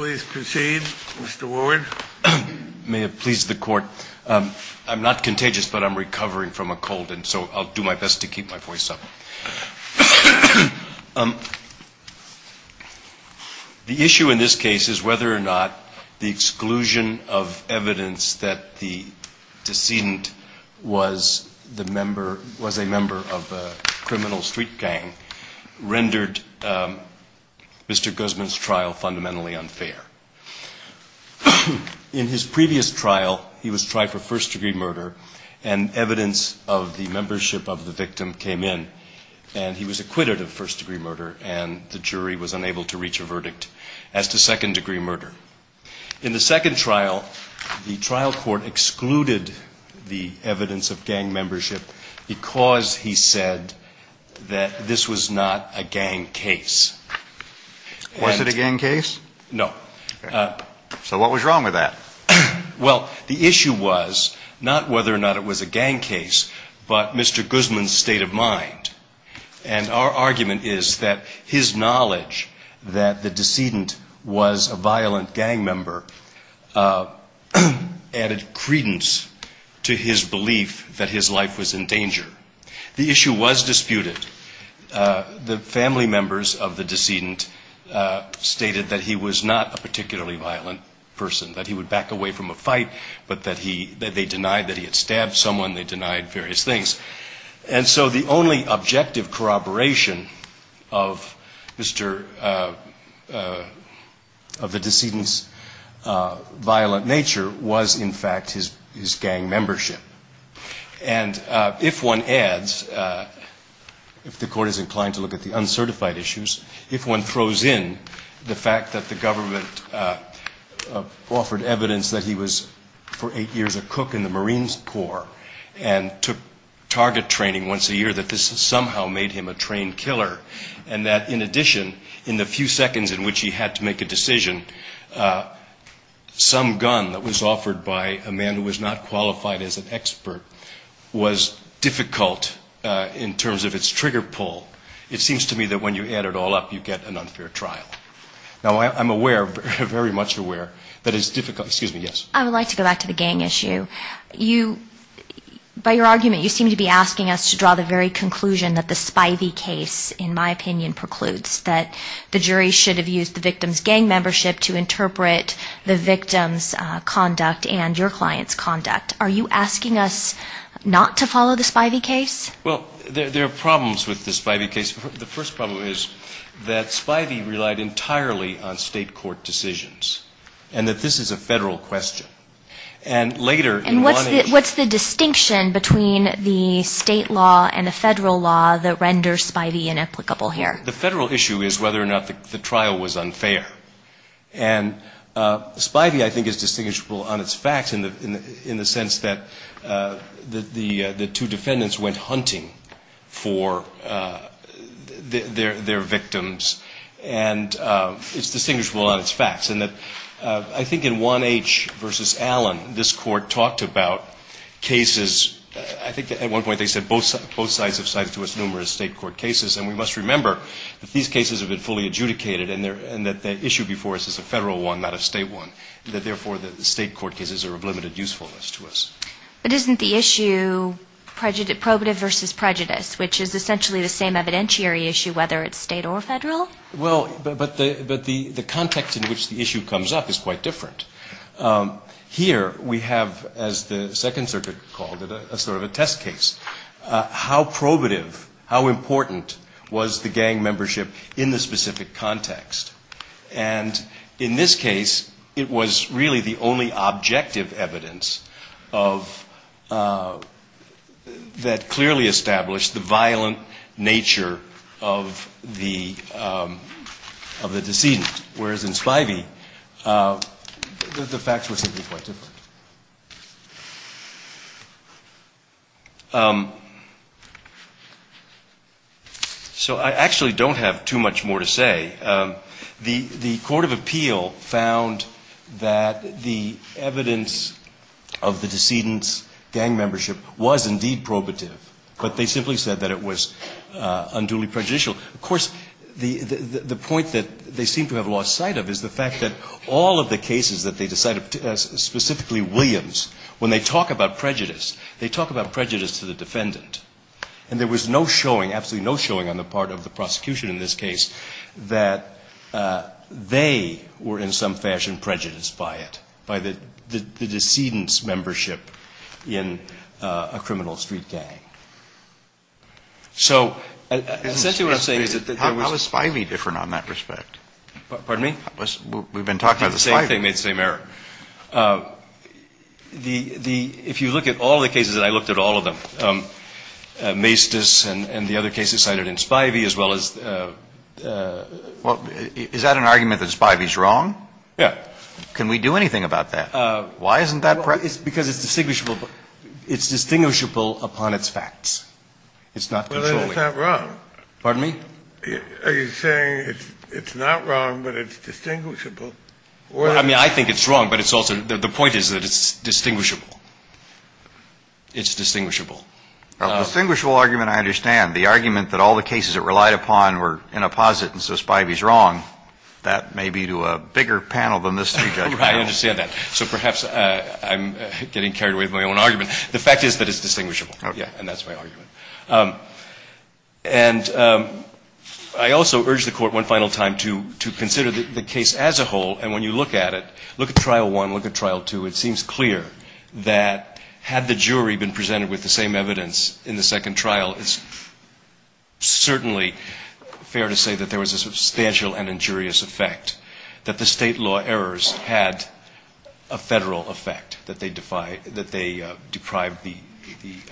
May it please the court. I'm not contagious but I'm recovering from a cold and so I'll do my best to keep my voice up. The issue in this case is whether or not the exclusion of evidence that the decedent was a member of a criminal street gang rendered Mr. Guzman's trial fundamentally unfair. In his previous trial he was tried for first degree murder and evidence of the membership of the victim came in and he was acquitted of first degree murder and the jury was unable to reach a verdict as to second degree murder. In the second trial the trial court excluded the that this was not a gang case. Was it a gang case? No. So what was wrong with that? Well the issue was not whether or not it was a gang case but Mr. Guzman's state of mind and our argument is that his knowledge that the decedent was a violent gang member added credence to his belief that his life was in danger. The issue was disputed. The family members of the decedent stated that he was not a particularly violent person, that he would back away from a fight but that they denied that he had stabbed someone, they denied various things. And so the only objective corroboration of the decedent's violent nature was in fact his gang membership. And if one adds, if the court is inclined to look at the uncertified issues, if one throws in the fact that the government offered evidence that he was for eight years a cook in the Marine Corps and took target training once a year that this somehow made him a trained killer and that in addition in the few seconds in which he had to make a decision some gun that was offered by a man who was not qualified as an expert was difficult in terms of its trigger pull. It seems to me that when you add it all up you get an unfair trial. Now I'm aware, very much aware that it's difficult, excuse me, yes? I would like to go back to the gang issue. You, by your argument you seem to be asking us to draw the very conclusion that the spivey case in my opinion precludes that the jury should have used the victim's gang membership to interpret the victim's conduct and your client's conduct. Are you asking us not to follow the spivey case? Well, there are problems with the spivey case. The first problem is that spivey relied entirely on state court decisions and that this is a federal question. And what's the distinction between the state law and the federal law that renders spivey inapplicable here? The federal issue is whether or not the trial was unfair. And spivey I think is distinguishable on its facts in the sense that the two defendants went hunting for their victims and it's distinguishable on its facts. And that I think in 1H v. Allen this Court talked about cases, I think at one point they said both sides have cited to us numerous state court cases. And we must remember that these cases have been fully adjudicated and that the issue before us is a federal one, not a state one. And that therefore the state court cases are of limited usefulness to us. But isn't the issue probative versus prejudice, which is essentially the same evidentiary issue whether it's state or federal? Well, but the context in which the issue comes up is quite different. Here we have, as the Second Circuit called it, a sort of a test case. How probative, how important was the gang membership in the specific context? And in this case it was really the only objective evidence of, that clearly established the violent nature of the, of the decedent. Whereas in spivey the facts were simply quite different. So I actually don't have too much more to say. The Court of Appeal found that the evidence of the decedent's gang membership was indeed probative. But they simply said that it was unduly prejudicial. Of course, the point that they seem to have lost sight of is the fact that all of the cases that they decided, specifically Williams, when they talk about prejudice, they talk about prejudice to the defendant. And there was no showing, absolutely no showing on the part of the prosecution in this case, that they were in some fashion prejudiced by it, by the decedent's membership in a criminal street gang. So essentially what I'm saying is that there was... How is spivey different on that respect? Pardon me? We've been talking about the spivey. I don't think it made the same error. The, the, if you look at all the cases, and I looked at all of them, Maestas and the other cases cited in spivey as well as... Well, is that an argument that spivey is wrong? Yeah. Can we do anything about that? Why isn't that correct? Because it's distinguishable. It's distinguishable upon its facts. It's not controllable. Well, then it's not wrong. Pardon me? Are you saying it's not wrong, but it's distinguishable? Well, I mean, I think it's wrong, but it's also, the point is that it's distinguishable. It's distinguishable. A distinguishable argument I understand. The argument that all the cases it relied upon were in a posit and so spivey is wrong, that may be to a bigger panel than this... I understand that. So perhaps I'm getting carried away with my own argument. The fact is that it's distinguishable. Okay. Yeah, and that's my argument. And I also urge the Court one final time to consider the case as a whole, and when you look at it, look at Trial 1, look at Trial 2, it seems clear that had the jury been presented with the same evidence in the second trial, it's certainly fair to say that there was a substantial and injurious effect, that the state law errors had a federal effect, that they deprived the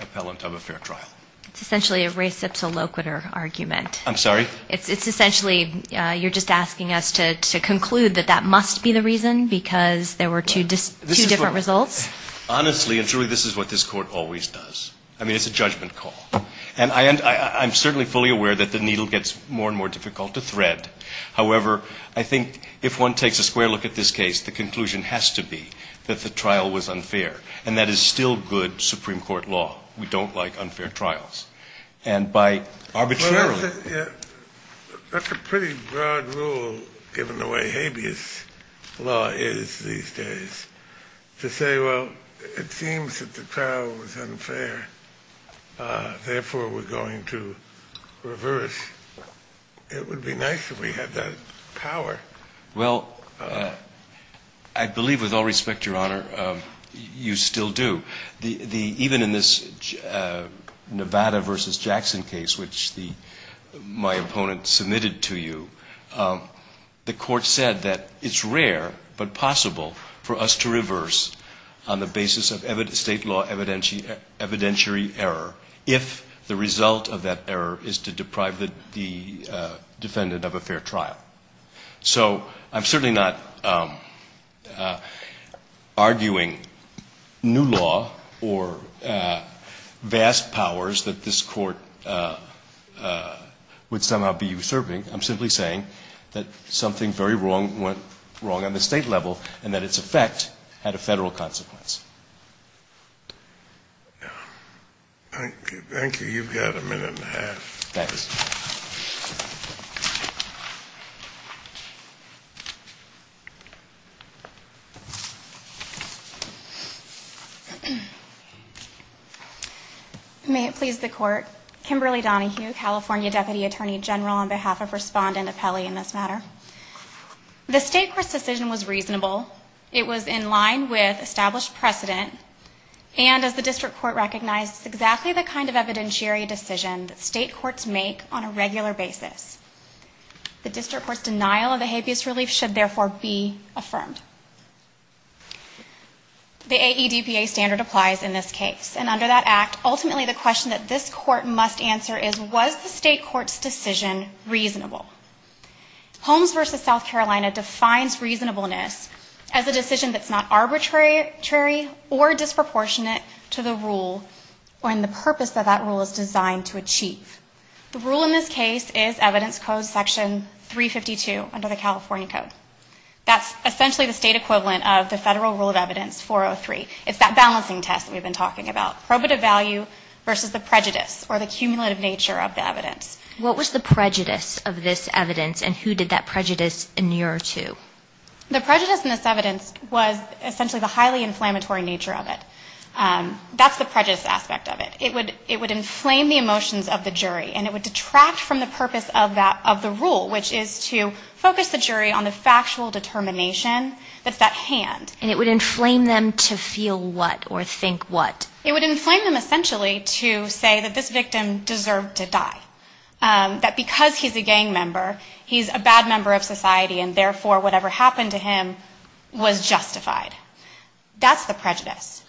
appellant of a fair trial. It's essentially a res ipsa loquitur argument. I'm sorry? It's essentially, you're just asking us to conclude that that must be the reason because there were two different results? Honestly, and truly, this is what this Court always does. I mean, it's a judgment call. And I'm certainly fully aware that the needle gets more and more difficult to thread. However, I think if one takes a square look at this case, the conclusion has to be that the trial was unfair, and that is still good Supreme Court law. We don't like unfair trials. And by arbitrarily That's a pretty broad rule, given the way habeas law is these days, to say, well, it seems that the trial was unfair, therefore we're going to reverse. It would be nice if we had that power. Well, I believe, with all respect, Your Honor, you still do. Even in this Nevada v. Jackson case, which my opponent submitted to you, the Court said that it's rare but possible for us to reverse on the basis of state law evidentiary error if the result of that error is to deprive the defendant of a fair trial. So I'm certainly not arguing new law or vast powers that this Court would somehow be usurping. I'm simply saying that something very wrong went wrong on the state level and that its effect had a Federal consequence. Thank you. You've got a minute and a half. Thanks. May it please the Court. Kimberly Donahue, California Deputy Attorney General, on behalf of Respondent Apelli in this matter. The State Court's decision was reasonable. It was in line with established precedent. And as the District Court recognized, it's exactly the kind of evidentiary decision that State Courts make on a regular basis. The District Court's denial of the habeas relief should therefore be affirmed. The AEDPA standard applies in this case. And under that Act, ultimately the question that this Court must answer is, was the State Court's decision reasonable? Holmes v. South Carolina defines reasonableness as a decision that's not arbitrary or disproportionate to the rule or in the purpose that that rule is designed to achieve. The rule in this case is Evidence Code Section 352 under the California Code. That's essentially the state equivalent of the Federal Rule of Evidence 403. It's that balancing test that we've been talking about, probative value versus the prejudice or the cumulative nature of the evidence. What was the prejudice of this evidence, and who did that prejudice inure to? The prejudice in this evidence was essentially the highly inflammatory nature of it. That's the prejudice aspect of it. It would inflame the emotions of the jury, and it would detract from the purpose of the rule, which is to focus the jury on the factual determination that's at hand. And it would inflame them to feel what or think what? It would inflame them essentially to say that this victim deserved to die, that because he's a gang member, he's a bad member of society, and therefore whatever happened to him was justified. That's the prejudice.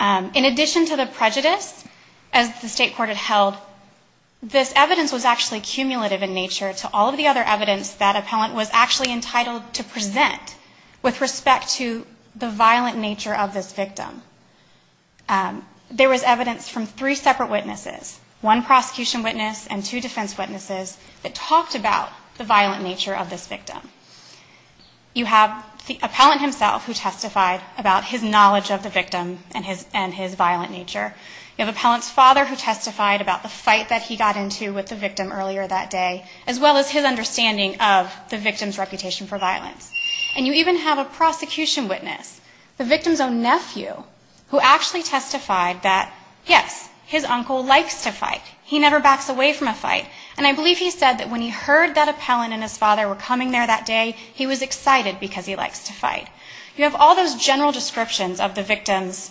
In addition to the prejudice, as the State Court had held, this evidence was actually cumulative in nature to all of the other evidence that appellant was actually entitled to present with respect to the violent nature of this victim. There was evidence from three separate witnesses, one prosecution witness and two defense witnesses, that talked about the violent nature of this victim. You have the appellant himself who testified about his knowledge of the victim and his violent nature. You have appellant's father who testified about the fight that he got into with the victim earlier that day, as well as his understanding of the victim's reputation for violence. And you even have a prosecution witness, the victim's own nephew, who actually testified that, yes, his uncle likes to fight. He never backs away from a fight. And I believe he said that when he heard that appellant and his father were coming there that day, he was excited because he likes to fight. You have all those general descriptions of the victim's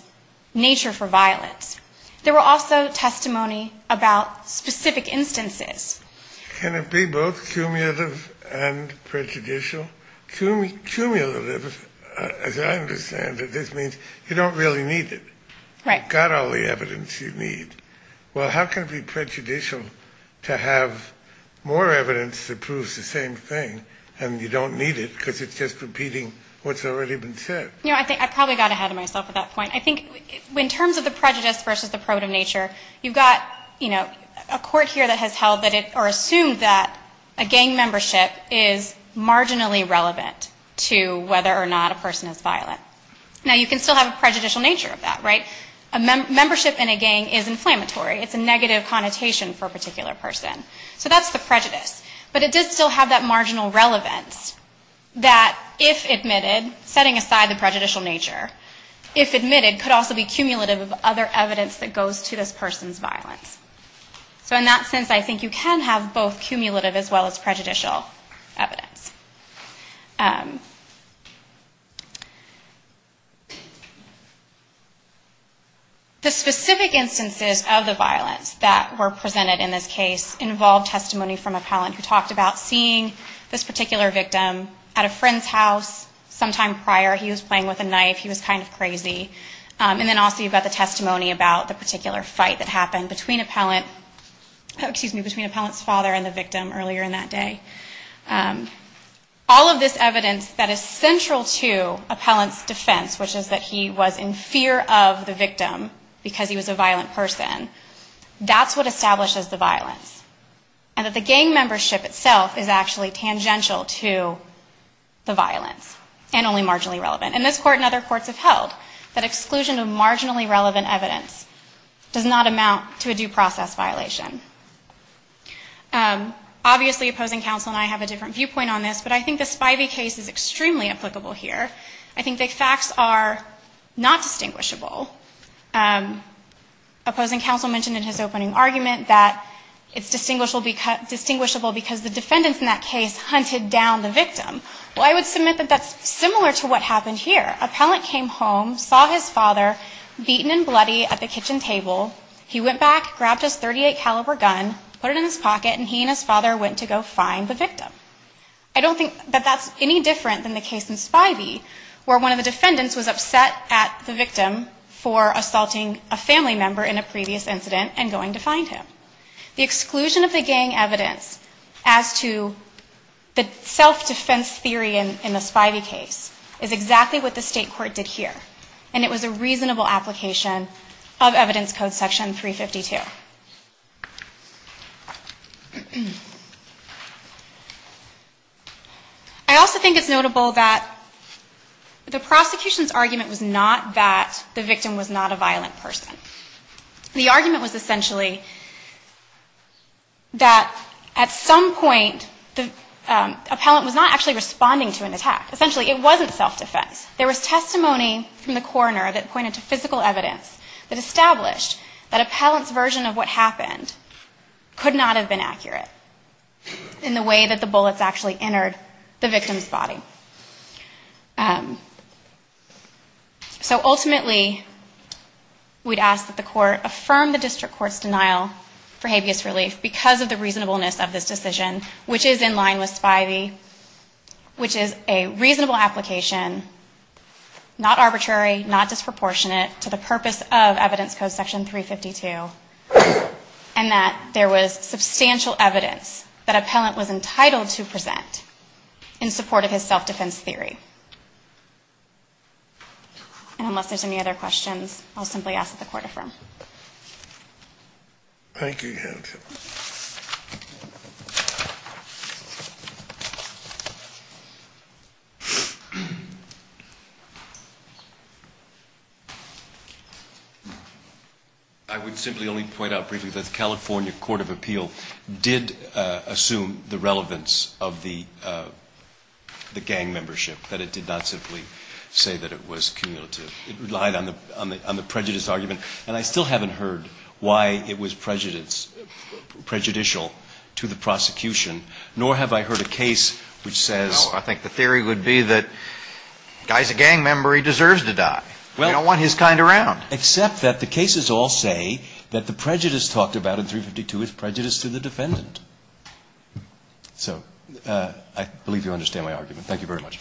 nature for violence. There were also testimony about specific instances. Can it be both cumulative and prejudicial? Cumulative, as I understand it, this means you don't really need it. You've got all the evidence you need. Well, how can it be prejudicial to have more evidence that proves the same thing and you don't need it because it's just repeating what's already been said? You know, I think I probably got ahead of myself at that point. I think in terms of the prejudice versus the probative nature, you've got, you know, a court here that has held or assumed that a gang membership is marginally relevant to whether or not a person is violent. Now, you can still have a prejudicial nature of that, right? A membership in a gang is inflammatory. It's a negative connotation for a particular person. So that's the prejudice. But it does still have that marginal relevance that if admitted, setting aside the prejudicial nature, if admitted, could also be cumulative of other evidence that goes to this person's violence. So in that sense, I think you can have both cumulative as well as prejudicial evidence. The specific instances of the violence that were presented in this case involved testimony from a palan who talked about seeing this particular victim at a friend's house sometime prior. He was playing with a knife. He was kind of crazy. And then also you've got the testimony about the particular fight that happened between appellant's father and the victim earlier in that day. All of this evidence that is central to appellant's defense, which is that he was in fear of the victim because he was a violent person, that's what establishes the violence. And that the gang membership itself is actually tangential to the violence and only marginally relevant. And this court and other courts have held that exclusion of marginally relevant evidence does not amount to a due process violation. Obviously opposing counsel and I have a different viewpoint on this, but I think the Spivey case is extremely applicable here. I think the facts are not distinguishable. Opposing counsel mentioned in his opening argument that it's distinguishable because the defendants in that case hunted down the victim. Well, I would submit that that's similar to what happened here. Appellant came home, saw his father beaten and bloody at the kitchen table. He went back, grabbed his .38 caliber gun, put it in his pocket and he and his father went to go find the victim. I don't think that that's any different than the case in Spivey where one of the defendants was upset at the victim for assaulting a family member in a previous incident and going to find him. The exclusion of the gang evidence as to the self-defense theory in the Spivey case is exactly what the state court did here. And it was a reasonable application of evidence code section 352. I also think it's notable that the prosecution's argument was not that the victim was not a violent person. The argument was essentially that at some point the appellant was not actually responding to an attack. Essentially it wasn't self-defense. There was testimony from the coroner that pointed to physical evidence that established that appellant's version of what happened could not have been accurate in the way that the bullets actually entered the victim's body. So ultimately we'd ask that the court affirm the district court's denial for habeas relief because of the reasonableness of this decision, which is in line with Spivey, which is a reasonable application, not arbitrary, not disproportionate to the purpose of evidence code section 352, and that there was substantial evidence that appellant was entitled to present in support of his self-defense theory. And unless there's any other questions, I'll simply ask that the court affirm. Thank you. I would simply only point out briefly that the California Court of Appeal did assume the relevance of the gang membership, that it did not simply say that it was cumulative. It relied on the prejudice argument. And I still haven't heard why it was prejudicial to the prosecution, nor have I heard a case which says No, I think the theory would be that the guy's a gang member, he deserves to die. We don't want his kind around. Except that the cases all say that the prejudice talked about in 352 is prejudice to the defendant. So I believe you understand my argument. Thank you very much.